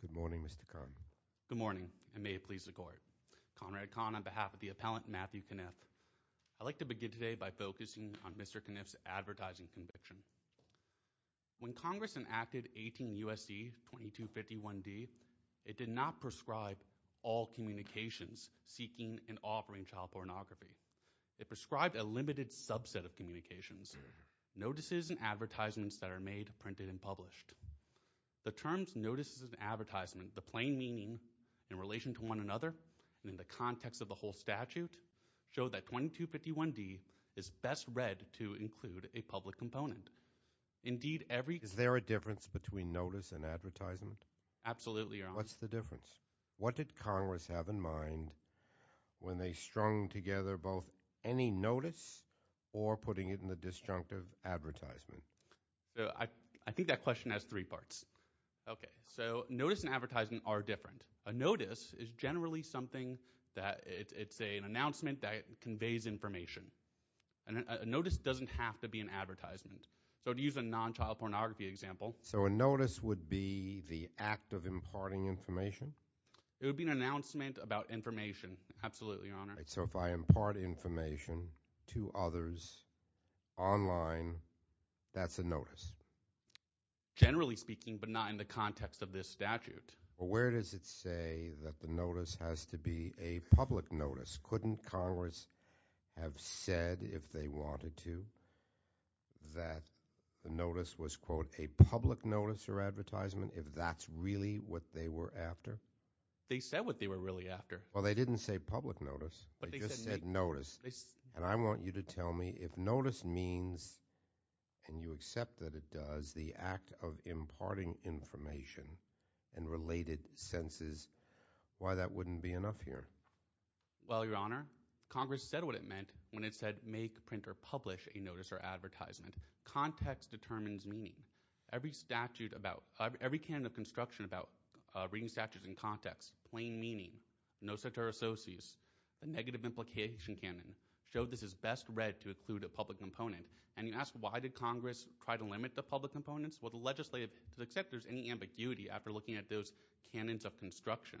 Good morning, Mr. Conn. Good morning, and may it please the Court. Conrad Conn on behalf of the appellant Matthew Caniff. I'd like to begin today by focusing on Mr. Caniff's advertising conviction. When Congress enacted 18 U.S.C. 2251d, it did not prescribe all communications seeking and offering child pornography. It prescribed a limited subset of communications, notices and advertisements that are made, printed, and published. The terms notices and advertisements, the plain meaning in relation to one another, and in the context of the whole statute, show that 2251d is best read to include a public component. Indeed, every… Is there a difference between notice and advertisement? Absolutely, Your Honor. What's the difference? What did Congress have in mind when they strung together both any notice or putting it in the disjunctive advertisement? I think that question has three parts. Okay, so notice and advertisement are different. A notice is generally something that it's an announcement that conveys information. A notice doesn't have to be an advertisement. So to use a non-child pornography example. So a notice would be the act of imparting information? It would be an announcement about information. Absolutely, Your Honor. So if I impart information to others online, that's a notice? Generally speaking, but not in the context of this statute. Well, where does it say that the notice has to be a public notice? Couldn't Congress have said if they wanted to that the notice was, quote, a public notice or advertisement if that's really what they were after? They said what they were really after. Well, they didn't say public notice. They just said notice. And I want you to tell me if notice means, and you accept that it does, the act of imparting information and related senses, why that wouldn't be enough here? Well, Your Honor, Congress said what it meant when it said make, print, or publish a notice or advertisement. Context determines meaning. Every statute about – every canon of construction about reading statutes in context, plain meaning, no cetera socius, a negative implication canon, showed this is best read to include a public component. And you ask why did Congress try to limit the public components? Well, the legislative – to accept there's any ambiguity after looking at those canons of construction.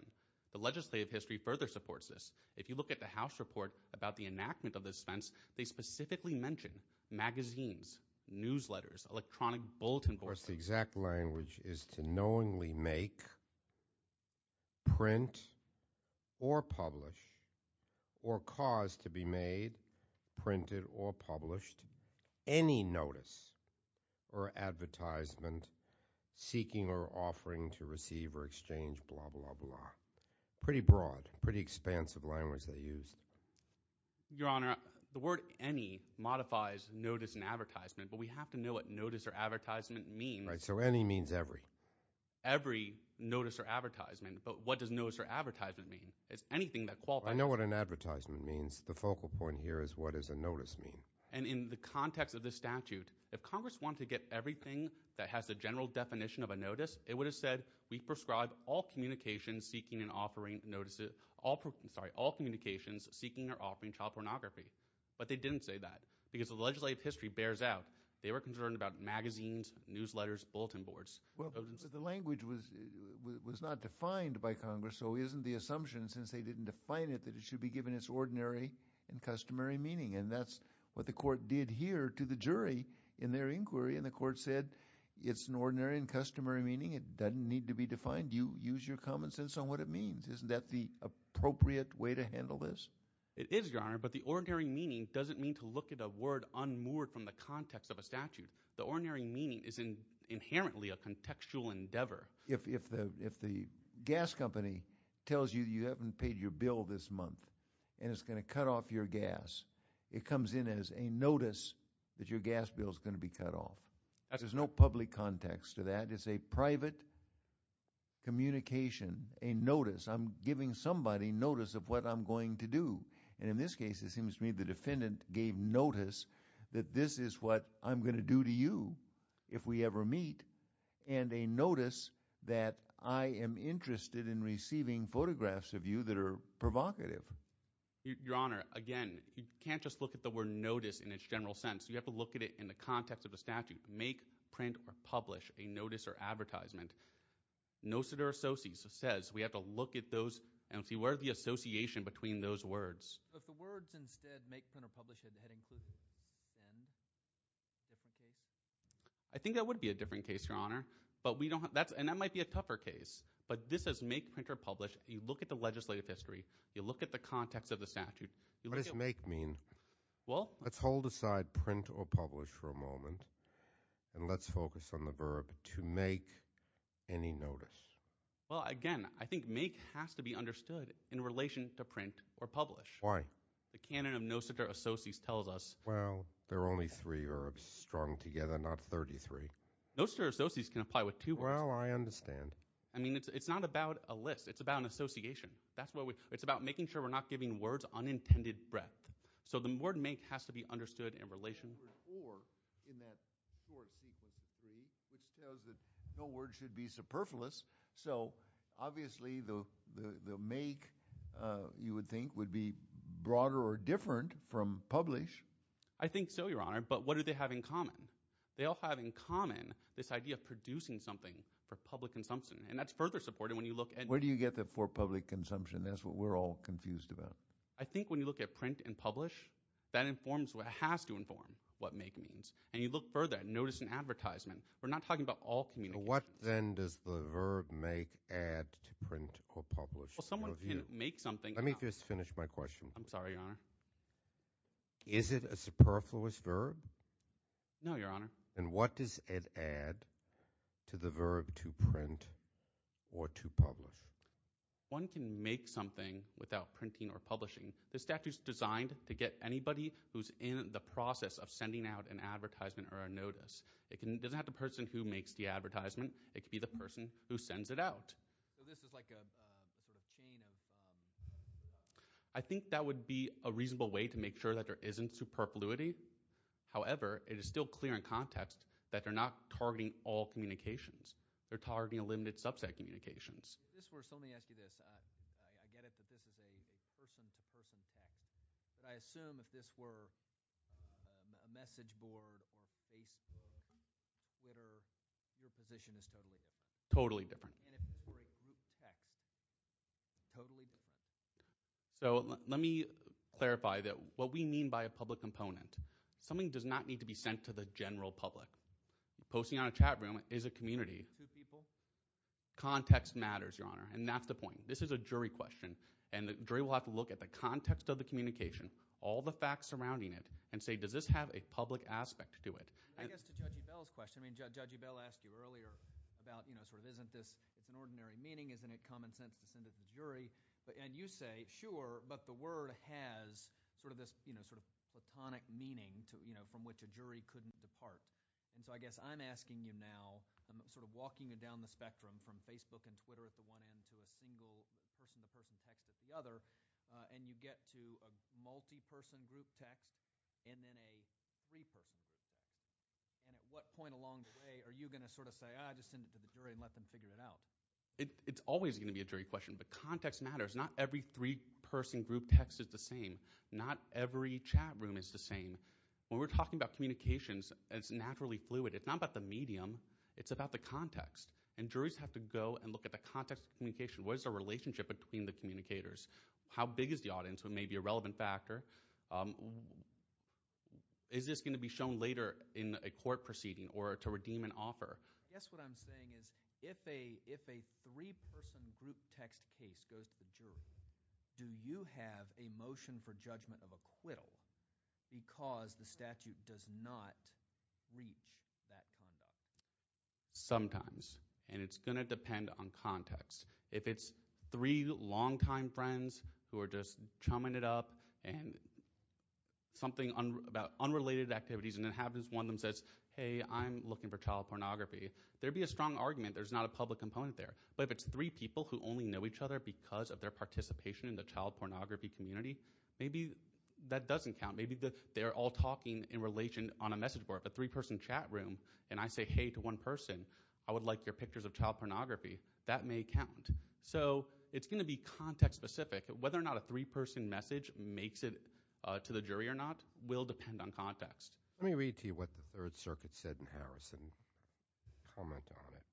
The legislative history further supports this. If you look at the House report about the enactment of the dispense, they specifically mention magazines, newsletters, electronic bulletin boards. Of course, the exact language is to knowingly make, print, or publish, or cause to be made, printed, or published, any notice or advertisement, seeking or offering to receive or exchange, blah, blah, blah. Pretty broad, pretty expansive language they used. Your Honor, the word any modifies notice and advertisement, but we have to know what notice or advertisement means. Right, so any means every. Every notice or advertisement. But what does notice or advertisement mean? It's anything that qualifies. I know what an advertisement means. The focal point here is what does a notice mean. And in the context of this statute, if Congress wanted to get everything that has the general definition of a notice, it would have said we prescribe all communications seeking and offering notices – sorry, all communications seeking or offering child pornography. But they didn't say that because the legislative history bears out. They were concerned about magazines, newsletters, bulletin boards. Well, but the language was not defined by Congress, so isn't the assumption, since they didn't define it, that it should be given its ordinary and customary meaning? And that's what the court did here to the jury in their inquiry, and the court said it's an ordinary and customary meaning. It doesn't need to be defined. You use your common sense on what it means. Isn't that the appropriate way to handle this? It is, Your Honor, but the ordinary meaning doesn't mean to look at a word unmoored from the context of a statute. The ordinary meaning is inherently a contextual endeavor. If the gas company tells you you haven't paid your bill this month and it's going to cut off your gas, it comes in as a notice that your gas bill is going to be cut off. There's no public context to that. It's a private communication, a notice. I'm giving somebody notice of what I'm going to do, and in this case it seems to me the defendant gave notice that this is what I'm going to do to you if we ever meet, and a notice that I am interested in receiving photographs of you that are provocative. Your Honor, again, you can't just look at the word notice in its general sense. You have to look at it in the context of the statute, make, print, or publish a notice or advertisement. Nocitor Associates says we have to look at those and see where the association between those words. If the words instead make, print, or publish had included them, would that be a different case? I think that would be a different case, Your Honor, and that might be a tougher case, but this is make, print, or publish. You look at the legislative history. You look at the context of the statute. What does make mean? Well – Let's hold aside print or publish for a moment, and let's focus on the verb to make any notice. Well, again, I think make has to be understood in relation to print or publish. Why? The canon of Nocitor Associates tells us – Well, there are only three verbs strung together, not 33. Nocitor Associates can apply with two words. Well, I understand. I mean it's not about a list. It's about an association. It's about making sure we're not giving words unintended breadth. So the word make has to be understood in relation – Or in that short sequence, which tells that no word should be superfluous. So obviously the make, you would think, would be broader or different from publish. I think so, Your Honor, but what do they have in common? They all have in common this idea of producing something for public consumption, and that's further supported when you look at – Where do you get that for public consumption? That's what we're all confused about. I think when you look at print and publish, that informs what has to inform what make means. And you look further and notice in advertisement, we're not talking about all communications. What then does the verb make add to print or publish? Well, someone can make something – Let me just finish my question. I'm sorry, Your Honor. Is it a superfluous verb? No, Your Honor. And what does it add to the verb to print or to publish? One can make something without printing or publishing. The statute is designed to get anybody who's in the process of sending out an advertisement or a notice. It doesn't have to be the person who makes the advertisement. It could be the person who sends it out. So this is like a sort of chain of – I think that would be a reasonable way to make sure that there isn't superfluity. However, it is still clear in context that they're not targeting all communications. They're targeting limited subset communications. Let me ask you this. I get it that this is a person-to-person text. But I assume if this were a message board or Facebook or Twitter, your position is totally different. Totally different. And if it were a group text, totally different. So let me clarify that what we mean by a public component, something does not need to be sent to the general public. Posting on a chat room is a community. Two people? Context matters, Your Honor, and that's the point. This is a jury question, and the jury will have to look at the context of the communication, all the facts surrounding it, and say, does this have a public aspect to it? I guess to Judge Ebell's question – I mean Judge Ebell asked you earlier about sort of isn't this – it's an ordinary meaning. Isn't it common sense to send it to the jury? And you say, sure, but the word has sort of this sort of platonic meaning from which a jury couldn't depart. And so I guess I'm asking you now, I'm sort of walking you down the spectrum from Facebook and Twitter at the one end to a single person-to-person text at the other, and you get to a multi-person group text and then a three-person group text. And at what point along the way are you going to sort of say, ah, just send it to the jury and let them figure it out? It's always going to be a jury question, but context matters. Not every three-person group text is the same. Not every chat room is the same. When we're talking about communications, it's naturally fluid. It's not about the medium. It's about the context. And juries have to go and look at the context of communication. What is the relationship between the communicators? How big is the audience? What may be a relevant factor? Is this going to be shown later in a court proceeding or to redeem an offer? I guess what I'm saying is if a three-person group text case goes to the jury, do you have a motion for judgment of acquittal because the statute does not reach that conduct? Sometimes, and it's going to depend on context. If it's three longtime friends who are just chumming it up and something about unrelated activities, and it happens one of them says, hey, I'm looking for child pornography, there would be a strong argument. There's not a public component there. But if it's three people who only know each other because of their participation in the child pornography community, maybe that doesn't count. Maybe they're all talking in relation on a message board. If a three-person chat room and I say, hey, to one person, I would like your pictures of child pornography, that may count. So it's going to be context-specific. Whether or not a three-person message makes it to the jury or not will depend on context. Let me read to you what the Third Circuit said in Harrison, comment on it.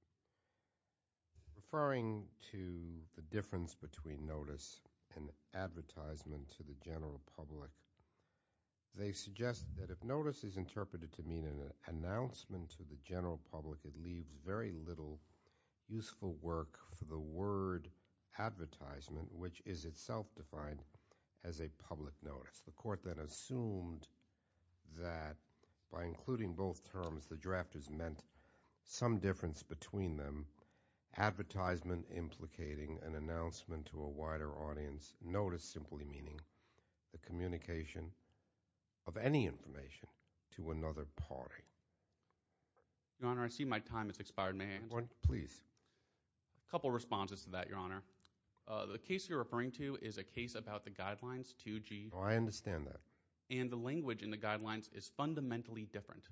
Referring to the difference between notice and advertisement to the general public, they suggest that if notice is interpreted to mean an announcement to the general public, it leaves very little useful work for the word advertisement, which is itself defined as a public notice. The court then assumed that by including both terms, the drafters meant some difference between them, advertisement implicating an announcement to a wider audience, notice simply meaning the communication of any information to another party. Your Honor, I see my time has expired. May I answer? Please. A couple of responses to that, Your Honor. The case you're referring to is a case about the Guidelines 2G. Oh, I understand that. And the language in the Guidelines is fundamentally different.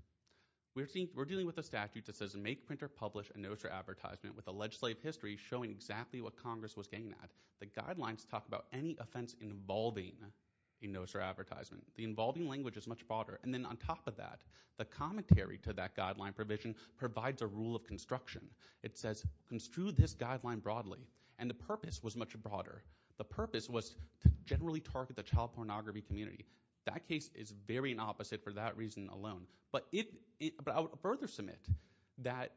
We're dealing with a statute that says make, print, or publish a notice or advertisement with a legislative history showing exactly what Congress was getting at. The Guidelines talk about any offense involving a notice or advertisement. The involving language is much broader. And then on top of that, the commentary to that Guideline provision provides a rule of construction. It says construe this Guideline broadly. And the purpose was much broader. The purpose was to generally target the child pornography community. That case is very opposite for that reason alone. But I would further submit that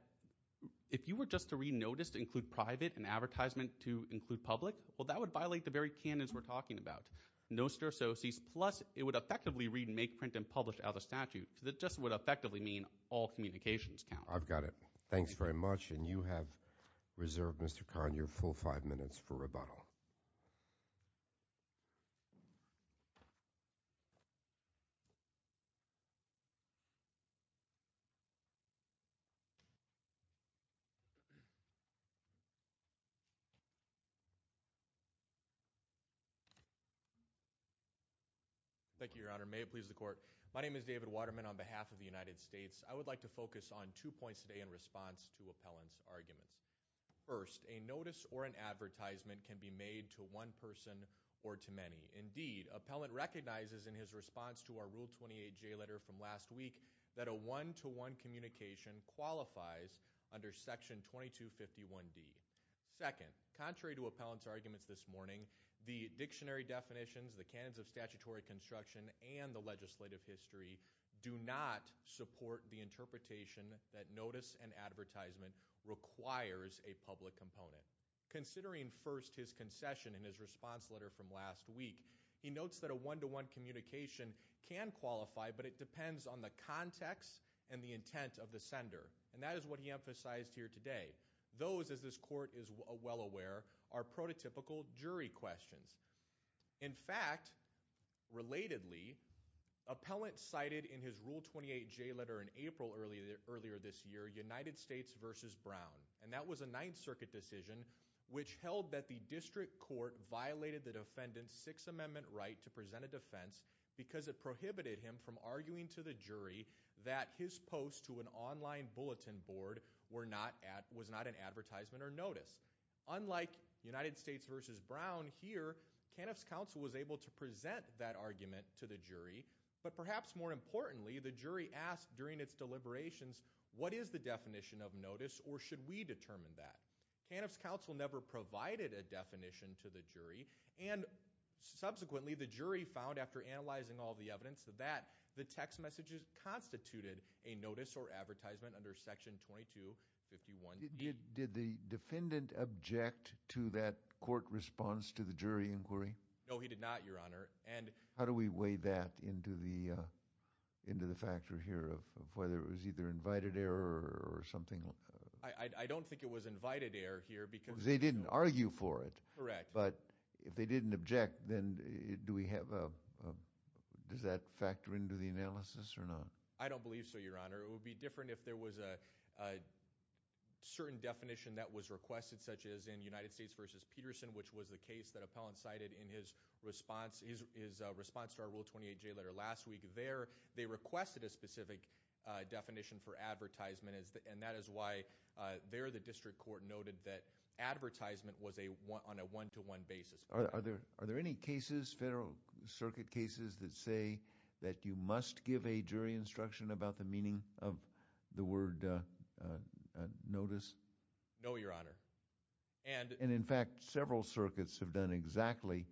if you were just to read notice to include private and advertisement to include public, well, that would violate the very canons we're talking about. Noster, so cease, plus it would effectively read make, print, and publish out of statute. That just would effectively mean all communications count. I've got it. Thanks very much. And you have reserved, Mr. Kahn, your full five minutes for rebuttal. Thank you, Your Honor. May it please the court. My name is David Waterman on behalf of the United States. I would like to focus on two points today in response to Appellant's arguments. First, a notice or an advertisement can be made to one person or to many. Indeed, Appellant recognizes in his response to our Rule 28J letter from last week that a one-to-one communication qualifies under Section 2251D. Second, contrary to Appellant's arguments this morning, the dictionary definitions, the canons of statutory construction, and the legislative history do not support the interpretation that notice and advertisement requires a public component. Considering first his concession in his response letter from last week, he notes that a one-to-one communication can qualify, but it depends on the context and the intent of the sender. And that is what he emphasized here today. Those, as this court is well aware, are prototypical jury questions. In fact, relatedly, Appellant cited in his Rule 28J letter in April earlier this year, United States v. Brown. And that was a Ninth Circuit decision which held that the district court violated the defendant's Sixth Amendment right to present a defense because it prohibited him from arguing to the jury that his post to an online bulletin board was not an advertisement or notice. Unlike United States v. Brown here, Caniff's counsel was able to present that argument to the jury. But perhaps more importantly, the jury asked during its deliberations, what is the definition of notice or should we determine that? Caniff's counsel never provided a definition to the jury. And subsequently, the jury found after analyzing all the evidence that the text messages constituted a notice or advertisement under Section 2251. Did the defendant object to that court response to the jury inquiry? No, he did not, Your Honor. How do we weigh that into the factor here of whether it was either invited error or something? I don't think it was invited error here because – They didn't argue for it. Correct. But if they didn't object, then do we have a – does that factor into the analysis or not? I don't believe so, Your Honor. It would be different if there was a certain definition that was requested such as in United States v. Peterson, which was the case that Appellant cited in his response to our Rule 28J letter last week. There they requested a specific definition for advertisement, and that is why there the district court noted that advertisement was on a one-to-one basis. Are there any cases, federal circuit cases, that say that you must give a jury instruction about the meaning of the word notice? No, Your Honor. And in fact, several circuits have done exactly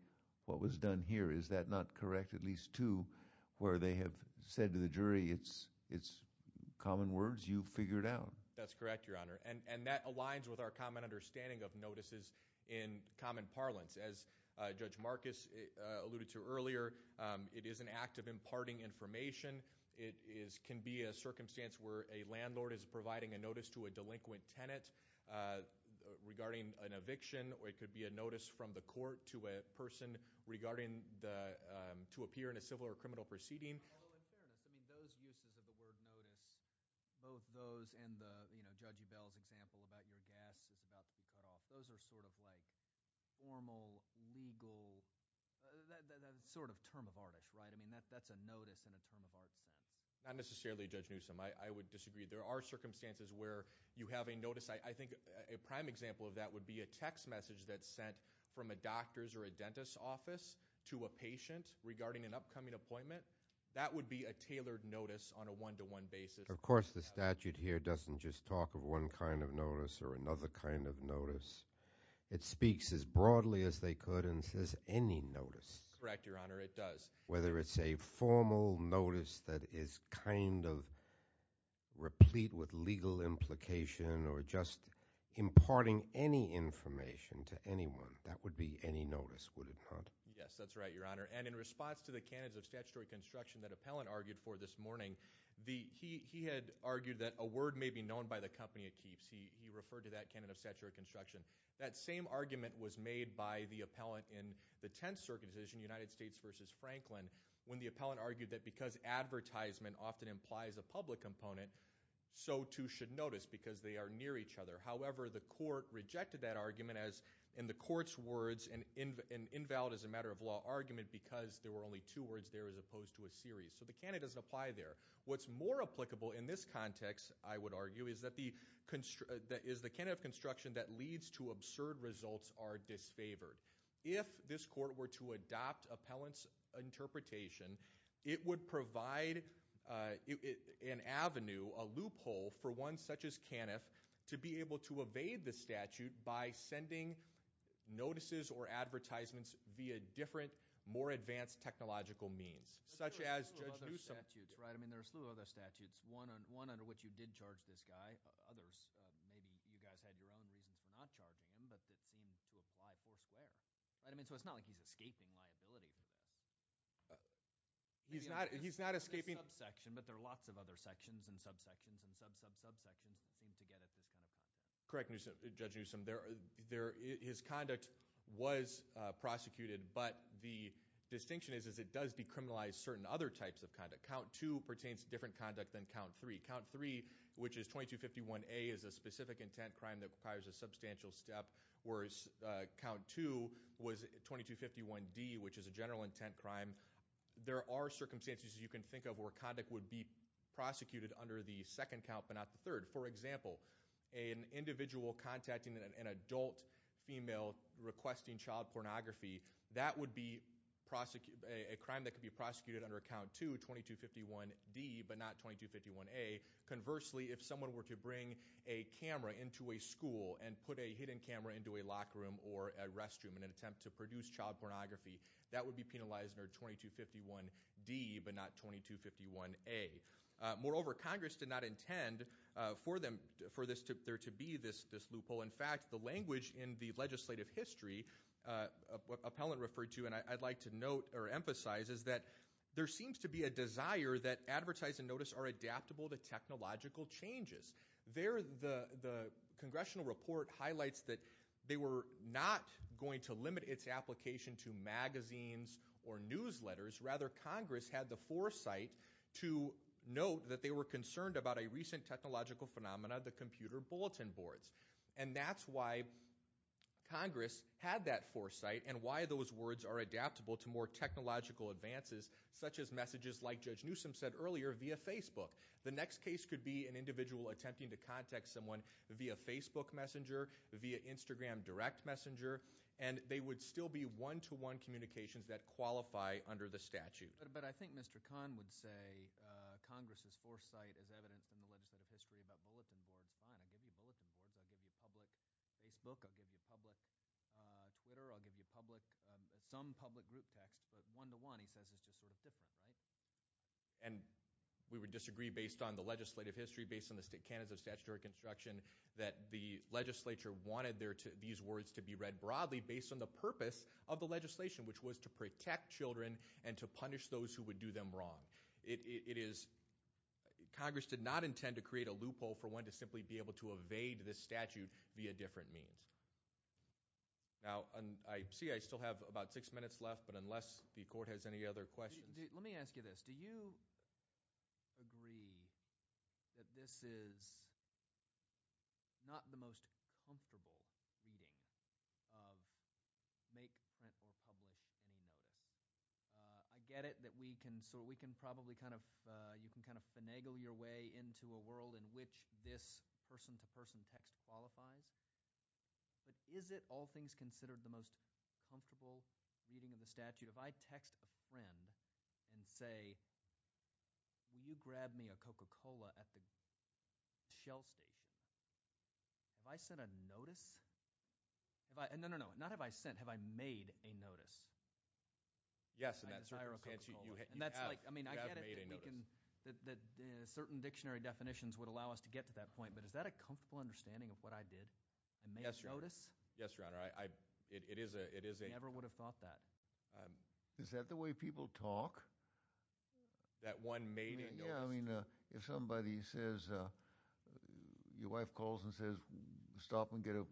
what was done here. Is that not correct? At least two where they have said to the jury it's common words you figured out. That's correct, Your Honor. And that aligns with our common understanding of notices in common parlance. As Judge Marcus alluded to earlier, it is an act of imparting information. It can be a circumstance where a landlord is providing a notice to a delinquent tenant regarding an eviction, or it could be a notice from the court to a person regarding to appear in a civil or criminal proceeding. In fairness, those uses of the word notice, both those and Judge Ebell's example about your gas is about to be cut off, those are sort of like formal, legal, sort of term of art-ish, right? I mean that's a notice in a term of art sense. Not necessarily, Judge Newsom. I would disagree. There are circumstances where you have a notice. I think a prime example of that would be a text message that's sent from a doctor's or a dentist's office to a patient regarding an upcoming appointment. That would be a tailored notice on a one-to-one basis. Of course, the statute here doesn't just talk of one kind of notice or another kind of notice. It speaks as broadly as they could and says any notice. Correct, Your Honor. It does. Whether it's a formal notice that is kind of replete with legal implication or just imparting any information to anyone, that would be any notice, would it not? Yes, that's right, Your Honor. And in response to the canons of statutory construction that Appellant argued for this morning, he had argued that a word may be known by the company it keeps. He referred to that canon of statutory construction. That same argument was made by the appellant in the Tenth Circuit decision, United States v. Franklin, when the appellant argued that because advertisement often implies a public component, so too should notice because they are near each other. However, the court rejected that argument as, in the court's words, an invalid as a matter of law argument because there were only two words there as opposed to a series. So the canon doesn't apply there. What's more applicable in this context, I would argue, is that the canon of construction that leads to absurd results are disfavored. If this court were to adopt Appellant's interpretation, it would provide an avenue, a loophole for one such as Caniff to be able to evade the statute by sending notices or advertisements via different, more advanced technological means. There are a slew of other statutes, right? I mean, there are a slew of other statutes. One under which you did charge this guy. Others, maybe you guys had your own reasons for not charging him, but it seems to apply foursquare. So it's not like he's escaping liability. He's not escaping- There's a subsection, but there are lots of other sections and subsections and sub-sub-subsections that seem to get at this kind of thing. Correct, Judge Newsom. His conduct was prosecuted, but the distinction is it does decriminalize certain other types of conduct. Count two pertains to different conduct than count three. Count three, which is 2251A, is a specific intent crime that requires a substantial step, whereas count two was 2251D, which is a general intent crime. There are circumstances you can think of where conduct would be prosecuted under the second count but not the third. For example, an individual contacting an adult female requesting child pornography, that would be a crime that could be prosecuted under count two, 2251D, but not 2251A. Conversely, if someone were to bring a camera into a school and put a hidden camera into a locker room or a restroom in an attempt to produce child pornography, that would be penalized under 2251D but not 2251A. Moreover, Congress did not intend for there to be this loophole. In fact, the language in the legislative history appellant referred to, and I'd like to note or emphasize, is that there seems to be a desire that advertising notice are adaptable to technological changes. There, the congressional report highlights that they were not going to limit its application to magazines or newsletters. Rather, Congress had the foresight to note that they were concerned about a recent technological phenomenon, the computer bulletin boards. And that's why Congress had that foresight and why those words are adaptable to more technological advances, such as messages like Judge Newsom said earlier via Facebook. The next case could be an individual attempting to contact someone via Facebook Messenger, via Instagram Direct Messenger, and they would still be one-to-one communications that qualify under the statute. But I think Mr. Kahn would say Congress's foresight is evident in the legislative history about bulletin boards. Fine, I'll give you bulletin boards. I'll give you public Facebook. I'll give you public Twitter. I'll give you some public group text, but one-to-one, he says, is just sort of different, right? And we would disagree based on the legislative history, based on the state candidates of statutory construction, that the legislature wanted these words to be read broadly based on the purpose of the legislation, which was to protect children and to punish those who would do them wrong. It is – Congress did not intend to create a loophole for one to simply be able to evade this statute via different means. Now, I see I still have about six minutes left, but unless the court has any other questions. Let me ask you this. Do you agree that this is not the most comfortable reading of make, print, or publish emails? I get it that we can – so we can probably kind of – you can kind of finagle your way into a world in which this person-to-person text qualifies. But is it all things considered the most comfortable reading of the statute? If I text a friend and say, will you grab me a Coca-Cola at the Shell station, have I sent a notice? No, no, no, not have I sent. Have I made a notice? Yes, and that's – I desire a Coca-Cola. You have. You have made a notice. Certain dictionary definitions would allow us to get to that point, but is that a comfortable understanding of what I did and made a notice? Yes, Your Honor. It is a – I never would have thought that. Is that the way people talk? That one made a notice? Yeah, I mean, if somebody says – your wife calls and says, stop and get a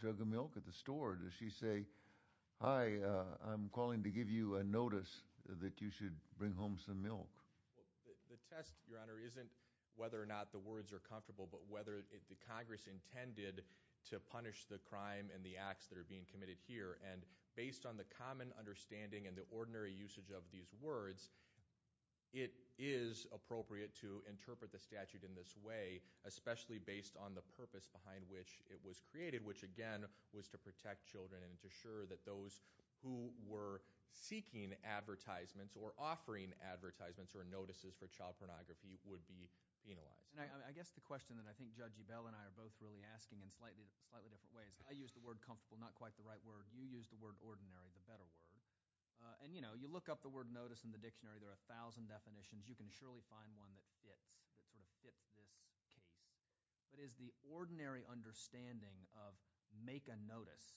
jug of milk at the store. Does she say, hi, I'm calling to give you a notice that you should bring home some milk? The test, Your Honor, isn't whether or not the words are comfortable, but whether the Congress intended to punish the crime and the acts that are being committed here. And based on the common understanding and the ordinary usage of these words, it is appropriate to interpret the statute in this way, especially based on the purpose behind which it was created, which, again, was to protect children and to assure that those who were seeking advertisements or offering advertisements or notices for child pornography would be penalized. I guess the question that I think Judge Ebell and I are both really asking in slightly different ways – I use the word comfortable, not quite the right word. You use the word ordinary, the better word. And you look up the word notice in the dictionary. There are a thousand definitions. You can surely find one that fits, that sort of fits this case. But is the ordinary understanding of make a notice –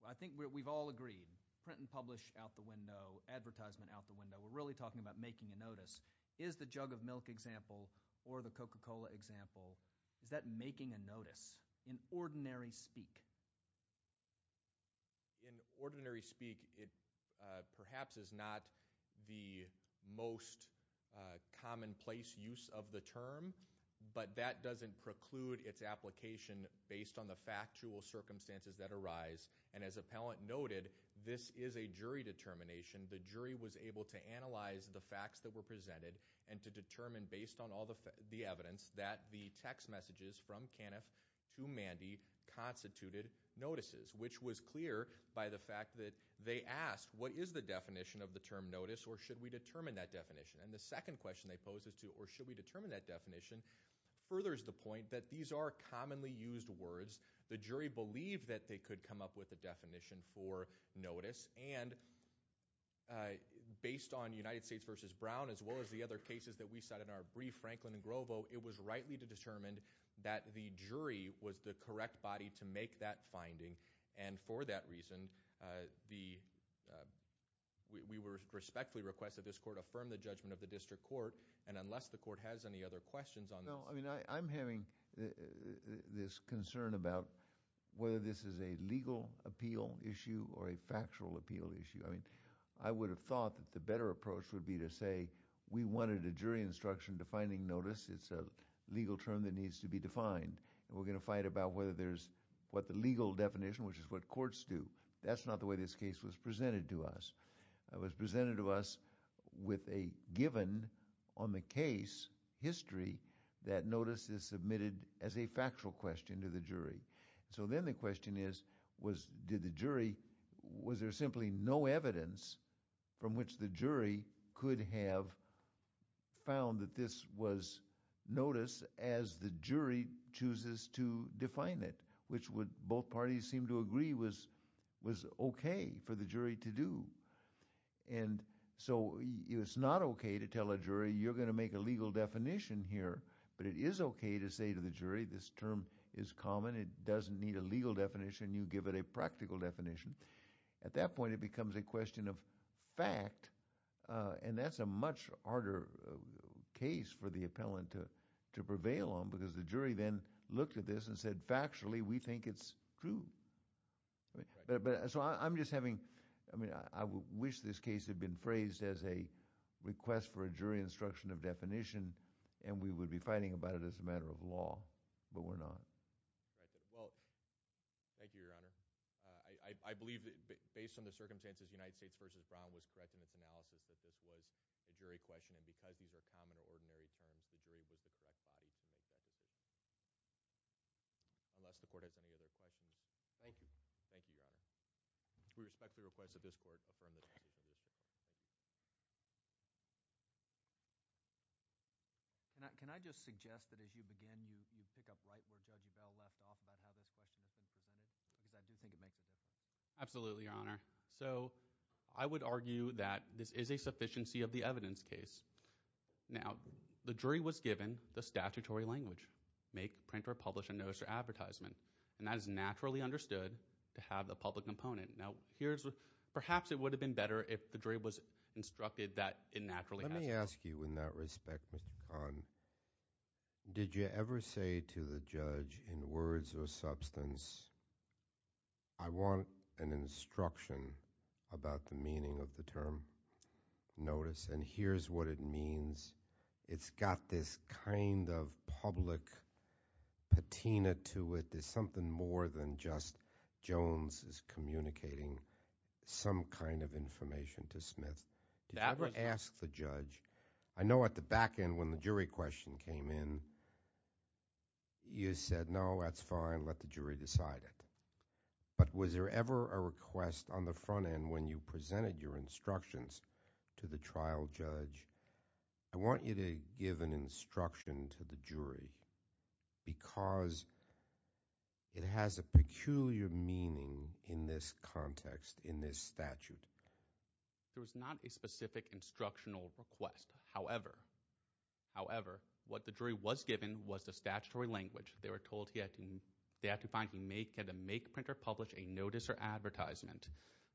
I think we've all agreed, print and publish out the window, advertisement out the window. We're really talking about making a notice. Is the jug of milk example or the Coca-Cola example, is that making a notice in ordinary speak? In ordinary speak, it perhaps is not the most commonplace use of the term, but that doesn't preclude its application based on the factual circumstances that arise. And as appellant noted, this is a jury determination. The jury was able to analyze the facts that were presented and to determine, based on all the evidence, that the text messages from Caniff to Mandy constituted notices, which was clear by the fact that they asked, what is the definition of the term notice, or should we determine that definition? And the second question they posed is to, or should we determine that definition, furthers the point that these are commonly used words. The jury believed that they could come up with a definition for notice. And based on United States v. Brown, as well as the other cases that we cite in our brief, Franklin and Grovo, it was rightly determined that the jury was the correct body to make that finding. And for that reason, we respectfully request that this court affirm the judgment of the district court. And unless the court has any other questions on this. Well, I mean, I'm having this concern about whether this is a legal appeal issue or a factual appeal issue. I mean, I would have thought that the better approach would be to say, we wanted a jury instruction defining notice. It's a legal term that needs to be defined. And we're going to fight about whether there's what the legal definition, which is what courts do. That's not the way this case was presented to us. It was presented to us with a given on the case history that notice is submitted as a factual question to the jury. So then the question is, was there simply no evidence from which the jury could have found that this was notice as the jury chooses to define it? Which would both parties seem to agree was was OK for the jury to do. And so it's not OK to tell a jury you're going to make a legal definition here. But it is OK to say to the jury, this term is common. It doesn't need a legal definition. You give it a practical definition. At that point, it becomes a question of fact. And that's a much harder case for the appellant to prevail on, because the jury then looked at this and said, factually, we think it's true. But so I'm just having I mean, I wish this case had been phrased as a request for a jury instruction of definition. And we would be fighting about it as a matter of law. But we're not. Well, thank you, Your Honor. I believe that based on the circumstances, United States v. Brown was correct in its analysis that this was a jury question. And because these are common or ordinary terms, the jury was the correct body to make that decision. Unless the court has any other questions. Thank you. Thank you, Your Honor. We respectfully request that this court affirm this. Can I just suggest that as you begin, you pick up right where Judge Bell left off about how this question is being presented? Absolutely, Your Honor. So I would argue that this is a sufficiency of the evidence case. Now, the jury was given the statutory language, make, print or publish a notice or advertisement. And that is naturally understood to have the public component. Now, here's perhaps it would have been better if the jury was instructed that it naturally. Let me ask you in that respect, Mr. Kahn. Did you ever say to the judge in words or substance, I want an instruction about the meaning of the term notice? And here's what it means. It's got this kind of public patina to it. There's something more than just Jones is communicating some kind of information to Smith. Did you ever ask the judge? I know at the back end when the jury question came in, you said, no, that's fine, let the jury decide it. But was there ever a request on the front end when you presented your instructions to the trial judge? I want you to give an instruction to the jury because it has a peculiar meaning in this context, in this statute. There was not a specific instructional request. However, what the jury was given was the statutory language. They were told they had to find, make, print or publish a notice or advertisement.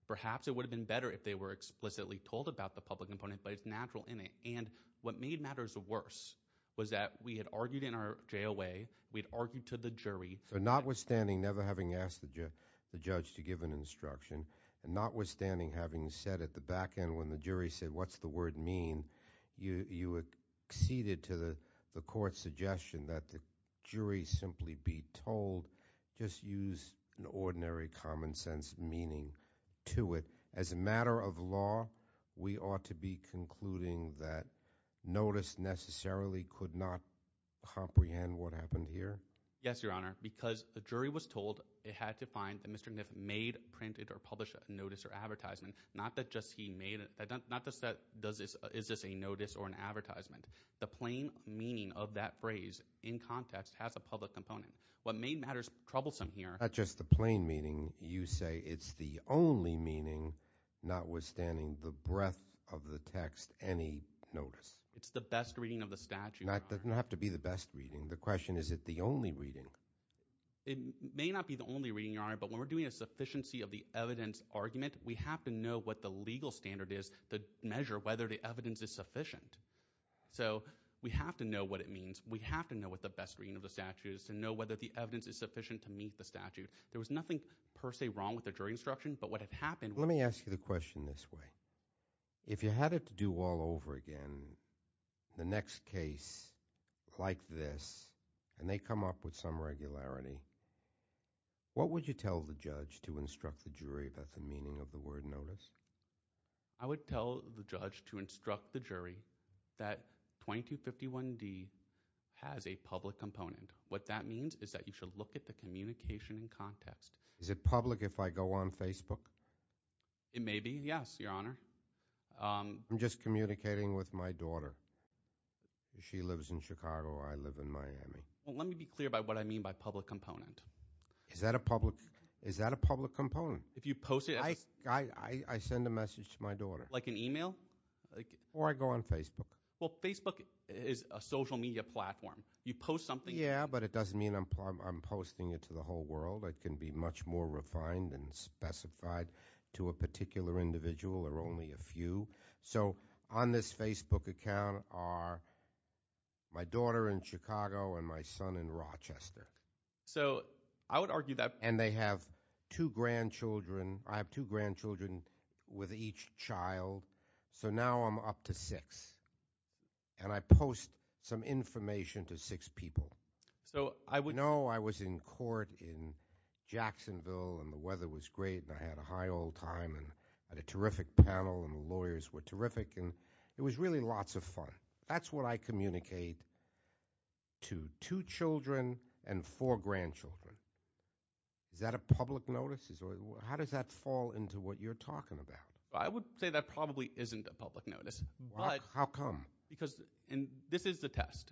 Perhaps it would have been better if they were explicitly told about the public component, but it's natural in it. And what made matters worse was that we had argued in our JOA, we had argued to the jury. So notwithstanding, never having asked the judge to give an instruction, and notwithstanding having said at the back end when the jury said, what's the word mean? You acceded to the court's suggestion that the jury simply be told, just use an ordinary common sense meaning to it. As a matter of law, we ought to be concluding that notice necessarily could not comprehend what happened here? Yes, Your Honor. Because the jury was told it had to find that Mr. Gniff made, printed or published a notice or advertisement. Not that just he made it. Not just that is this a notice or an advertisement. The plain meaning of that phrase in context has a public component. What made matters troublesome here Not just the plain meaning. You say it's the only meaning, notwithstanding the breadth of the text, any notice. It's the best reading of the statute, Your Honor. It doesn't have to be the best reading. The question is, is it the only reading? It may not be the only reading, Your Honor, but when we're doing a sufficiency of the evidence argument, we have to know what the legal standard is to measure whether the evidence is sufficient. So we have to know what it means. We have to know what the best reading of the statute is to know whether the evidence is sufficient to meet the statute. There was nothing per se wrong with the jury instruction, but what had happened Let me ask you the question this way. If you had it to do all over again, the next case like this, and they come up with some regularity, what would you tell the judge to instruct the jury about the meaning of the word notice? I would tell the judge to instruct the jury that 2251D has a public component. What that means is that you should look at the communication in context. Is it public if I go on Facebook? It may be, yes, Your Honor. I'm just communicating with my daughter. She lives in Chicago. I live in Miami. Let me be clear about what I mean by public component. Is that a public component? If you post it. I send a message to my daughter. Like an email? Or I go on Facebook. Well, Facebook is a social media platform. You post something. Yeah, but it doesn't mean I'm posting it to the whole world. It can be much more refined and specified to a particular individual or only a few. So on this Facebook account are my daughter in Chicago and my son in Rochester. So I would argue that. And they have two grandchildren. I have two grandchildren with each child. So now I'm up to six. And I post some information to six people. No, I was in court in Jacksonville, and the weather was great, and I had a high old time. I had a terrific panel, and the lawyers were terrific, and it was really lots of fun. That's what I communicate to two children and four grandchildren. Is that a public notice? How does that fall into what you're talking about? I would say that probably isn't a public notice. How come? Because this is the test.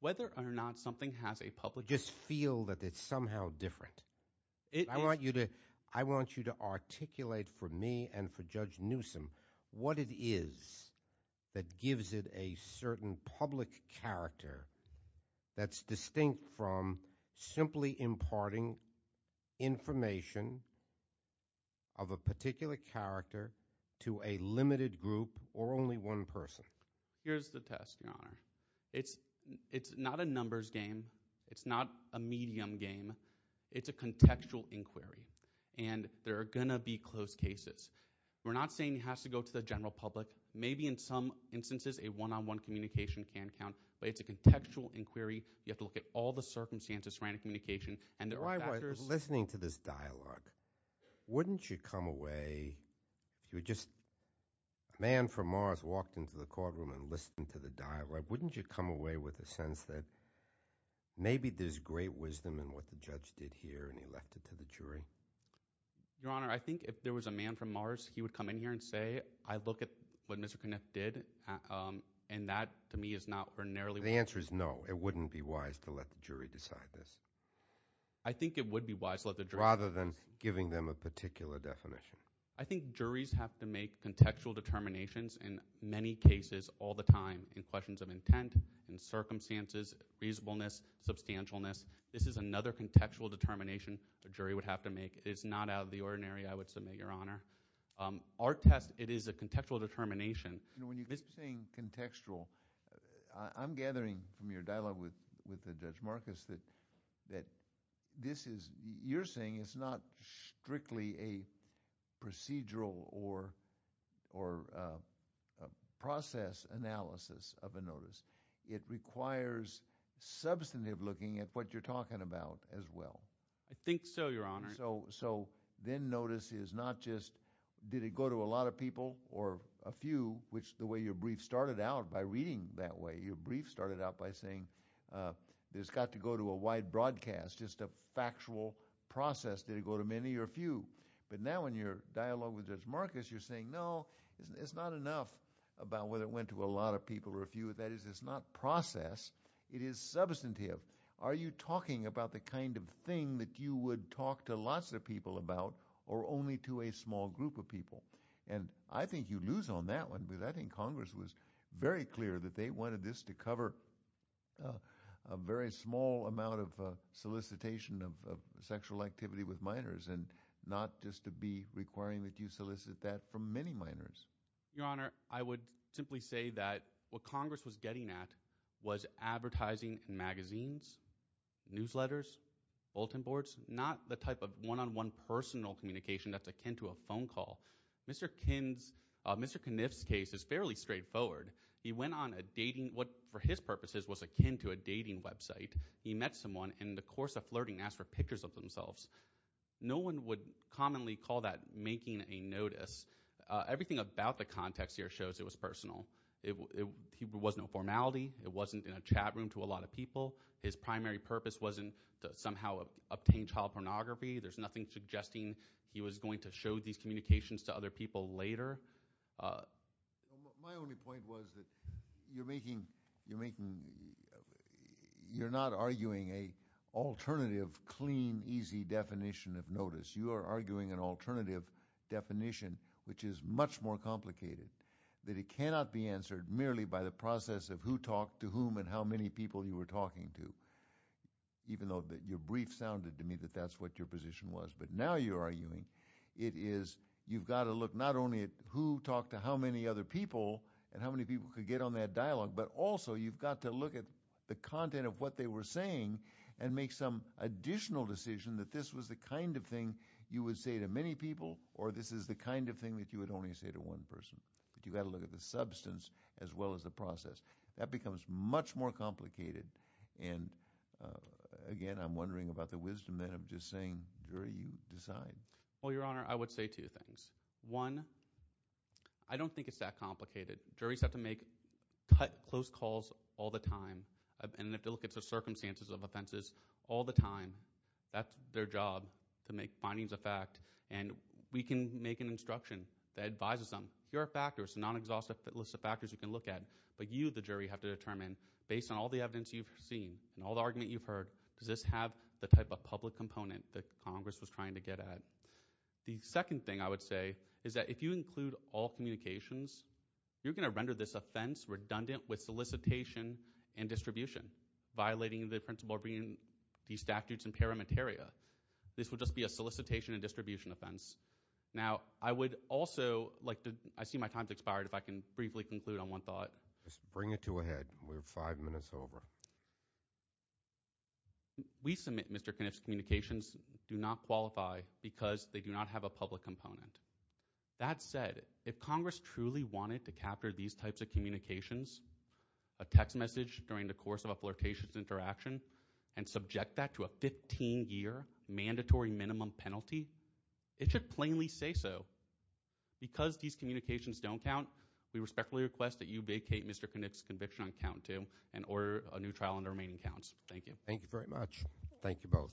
Whether or not something has a public notice. Just feel that it's somehow different. I want you to articulate for me and for Judge Newsom what it is that gives it a certain public character that's distinct from simply imparting information of a particular character to a limited group or only one person. Here's the test, Your Honor. It's not a numbers game. It's not a medium game. It's a contextual inquiry, and there are going to be close cases. We're not saying it has to go to the general public. Maybe in some instances a one-on-one communication can count, but it's a contextual inquiry. You have to look at all the circumstances surrounding communication, and there are factors. All right, listen to this dialogue. Wouldn't you come away, if you were just a man from Mars, walked into the courtroom and listened to the dialogue, wouldn't you come away with a sense that maybe there's great wisdom in what the judge did here and he left it to the jury? Your Honor, I think if there was a man from Mars, he would come in here and say, I look at what Mr. Kniff did, and that, to me, is not ordinarily wise. The answer is no. It wouldn't be wise to let the jury decide this. I think it would be wise to let the jury decide this. Rather than giving them a particular definition. I think juries have to make contextual determinations in many cases all the time, in questions of intent, in circumstances, reasonableness, substantialness. This is another contextual determination a jury would have to make. It is not out of the ordinary, I would submit, Your Honor. Our test, it is a contextual determination. When you're saying contextual, I'm gathering from your dialogue with Judge Marcus that this is – you're saying it's not strictly a procedural or process analysis of a notice. It requires substantive looking at what you're talking about as well. I think so, Your Honor. So then notice is not just did it go to a lot of people or a few, which the way your brief started out by reading that way, your brief started out by saying it's got to go to a wide broadcast, just a factual process. Did it go to many or a few? But now in your dialogue with Judge Marcus, you're saying, no, it's not enough about whether it went to a lot of people or a few. That is, it's not process. It is substantive. Are you talking about the kind of thing that you would talk to lots of people about or only to a small group of people? And I think you lose on that one because I think Congress was very clear that they wanted this to cover a very small amount of solicitation of sexual activity with minors and not just to be requiring that you solicit that from many minors. Your Honor, I would simply say that what Congress was getting at was advertising in magazines, newsletters, bulletin boards, not the type of one-on-one personal communication that's akin to a phone call. Mr. Kniff's case is fairly straightforward. He went on a dating, what for his purposes was akin to a dating website. He met someone and in the course of flirting asked for pictures of themselves. No one would commonly call that making a notice. Everything about the context here shows it was personal. There was no formality. It wasn't in a chat room to a lot of people. His primary purpose wasn't to somehow obtain child pornography. There's nothing suggesting he was going to show these communications to other people later. My only point was that you're making – you're not arguing an alternative, clean, easy definition of notice. You are arguing an alternative definition which is much more complicated, that it cannot be answered merely by the process of who talked to whom and how many people you were talking to, even though your brief sounded to me that that's what your position was. But now you're arguing it is you've got to look not only at who talked to how many other people and how many people could get on that dialogue, but also you've got to look at the content of what they were saying and make some additional decision that this was the kind of thing you would say to many people or this is the kind of thing that you would only say to one person. But you've got to look at the substance as well as the process. That becomes much more complicated. And again, I'm wondering about the wisdom then of just saying, jury, you decide. Well, Your Honor, I would say two things. One, I don't think it's that complicated. Juries have to make close calls all the time and have to look at the circumstances of offenses all the time. That's their job, to make findings of fact, and we can make an instruction that advises them, here are factors, non-exhaustive list of factors you can look at, but you, the jury, have to determine based on all the evidence you've seen and all the argument you've heard, does this have the type of public component that Congress was trying to get at? The second thing I would say is that if you include all communications, you're going to render this offense redundant with solicitation and distribution, violating the principle of bringing these statutes in parameteria. This would just be a solicitation and distribution offense. Now, I would also like to – I see my time's expired. If I can briefly conclude on one thought. Just bring it to a head. We're five minutes over. We submit Mr. Kniff's communications do not qualify because they do not have a public component. That said, if Congress truly wanted to capture these types of communications, a text message during the course of a flirtation interaction, and subject that to a 15-year mandatory minimum penalty, it should plainly say so. Because these communications don't count, we respectfully request that you vacate Mr. Kniff's conviction on count two and order a new trial on the remaining counts. Thank you. Thank you very much. Thank you both.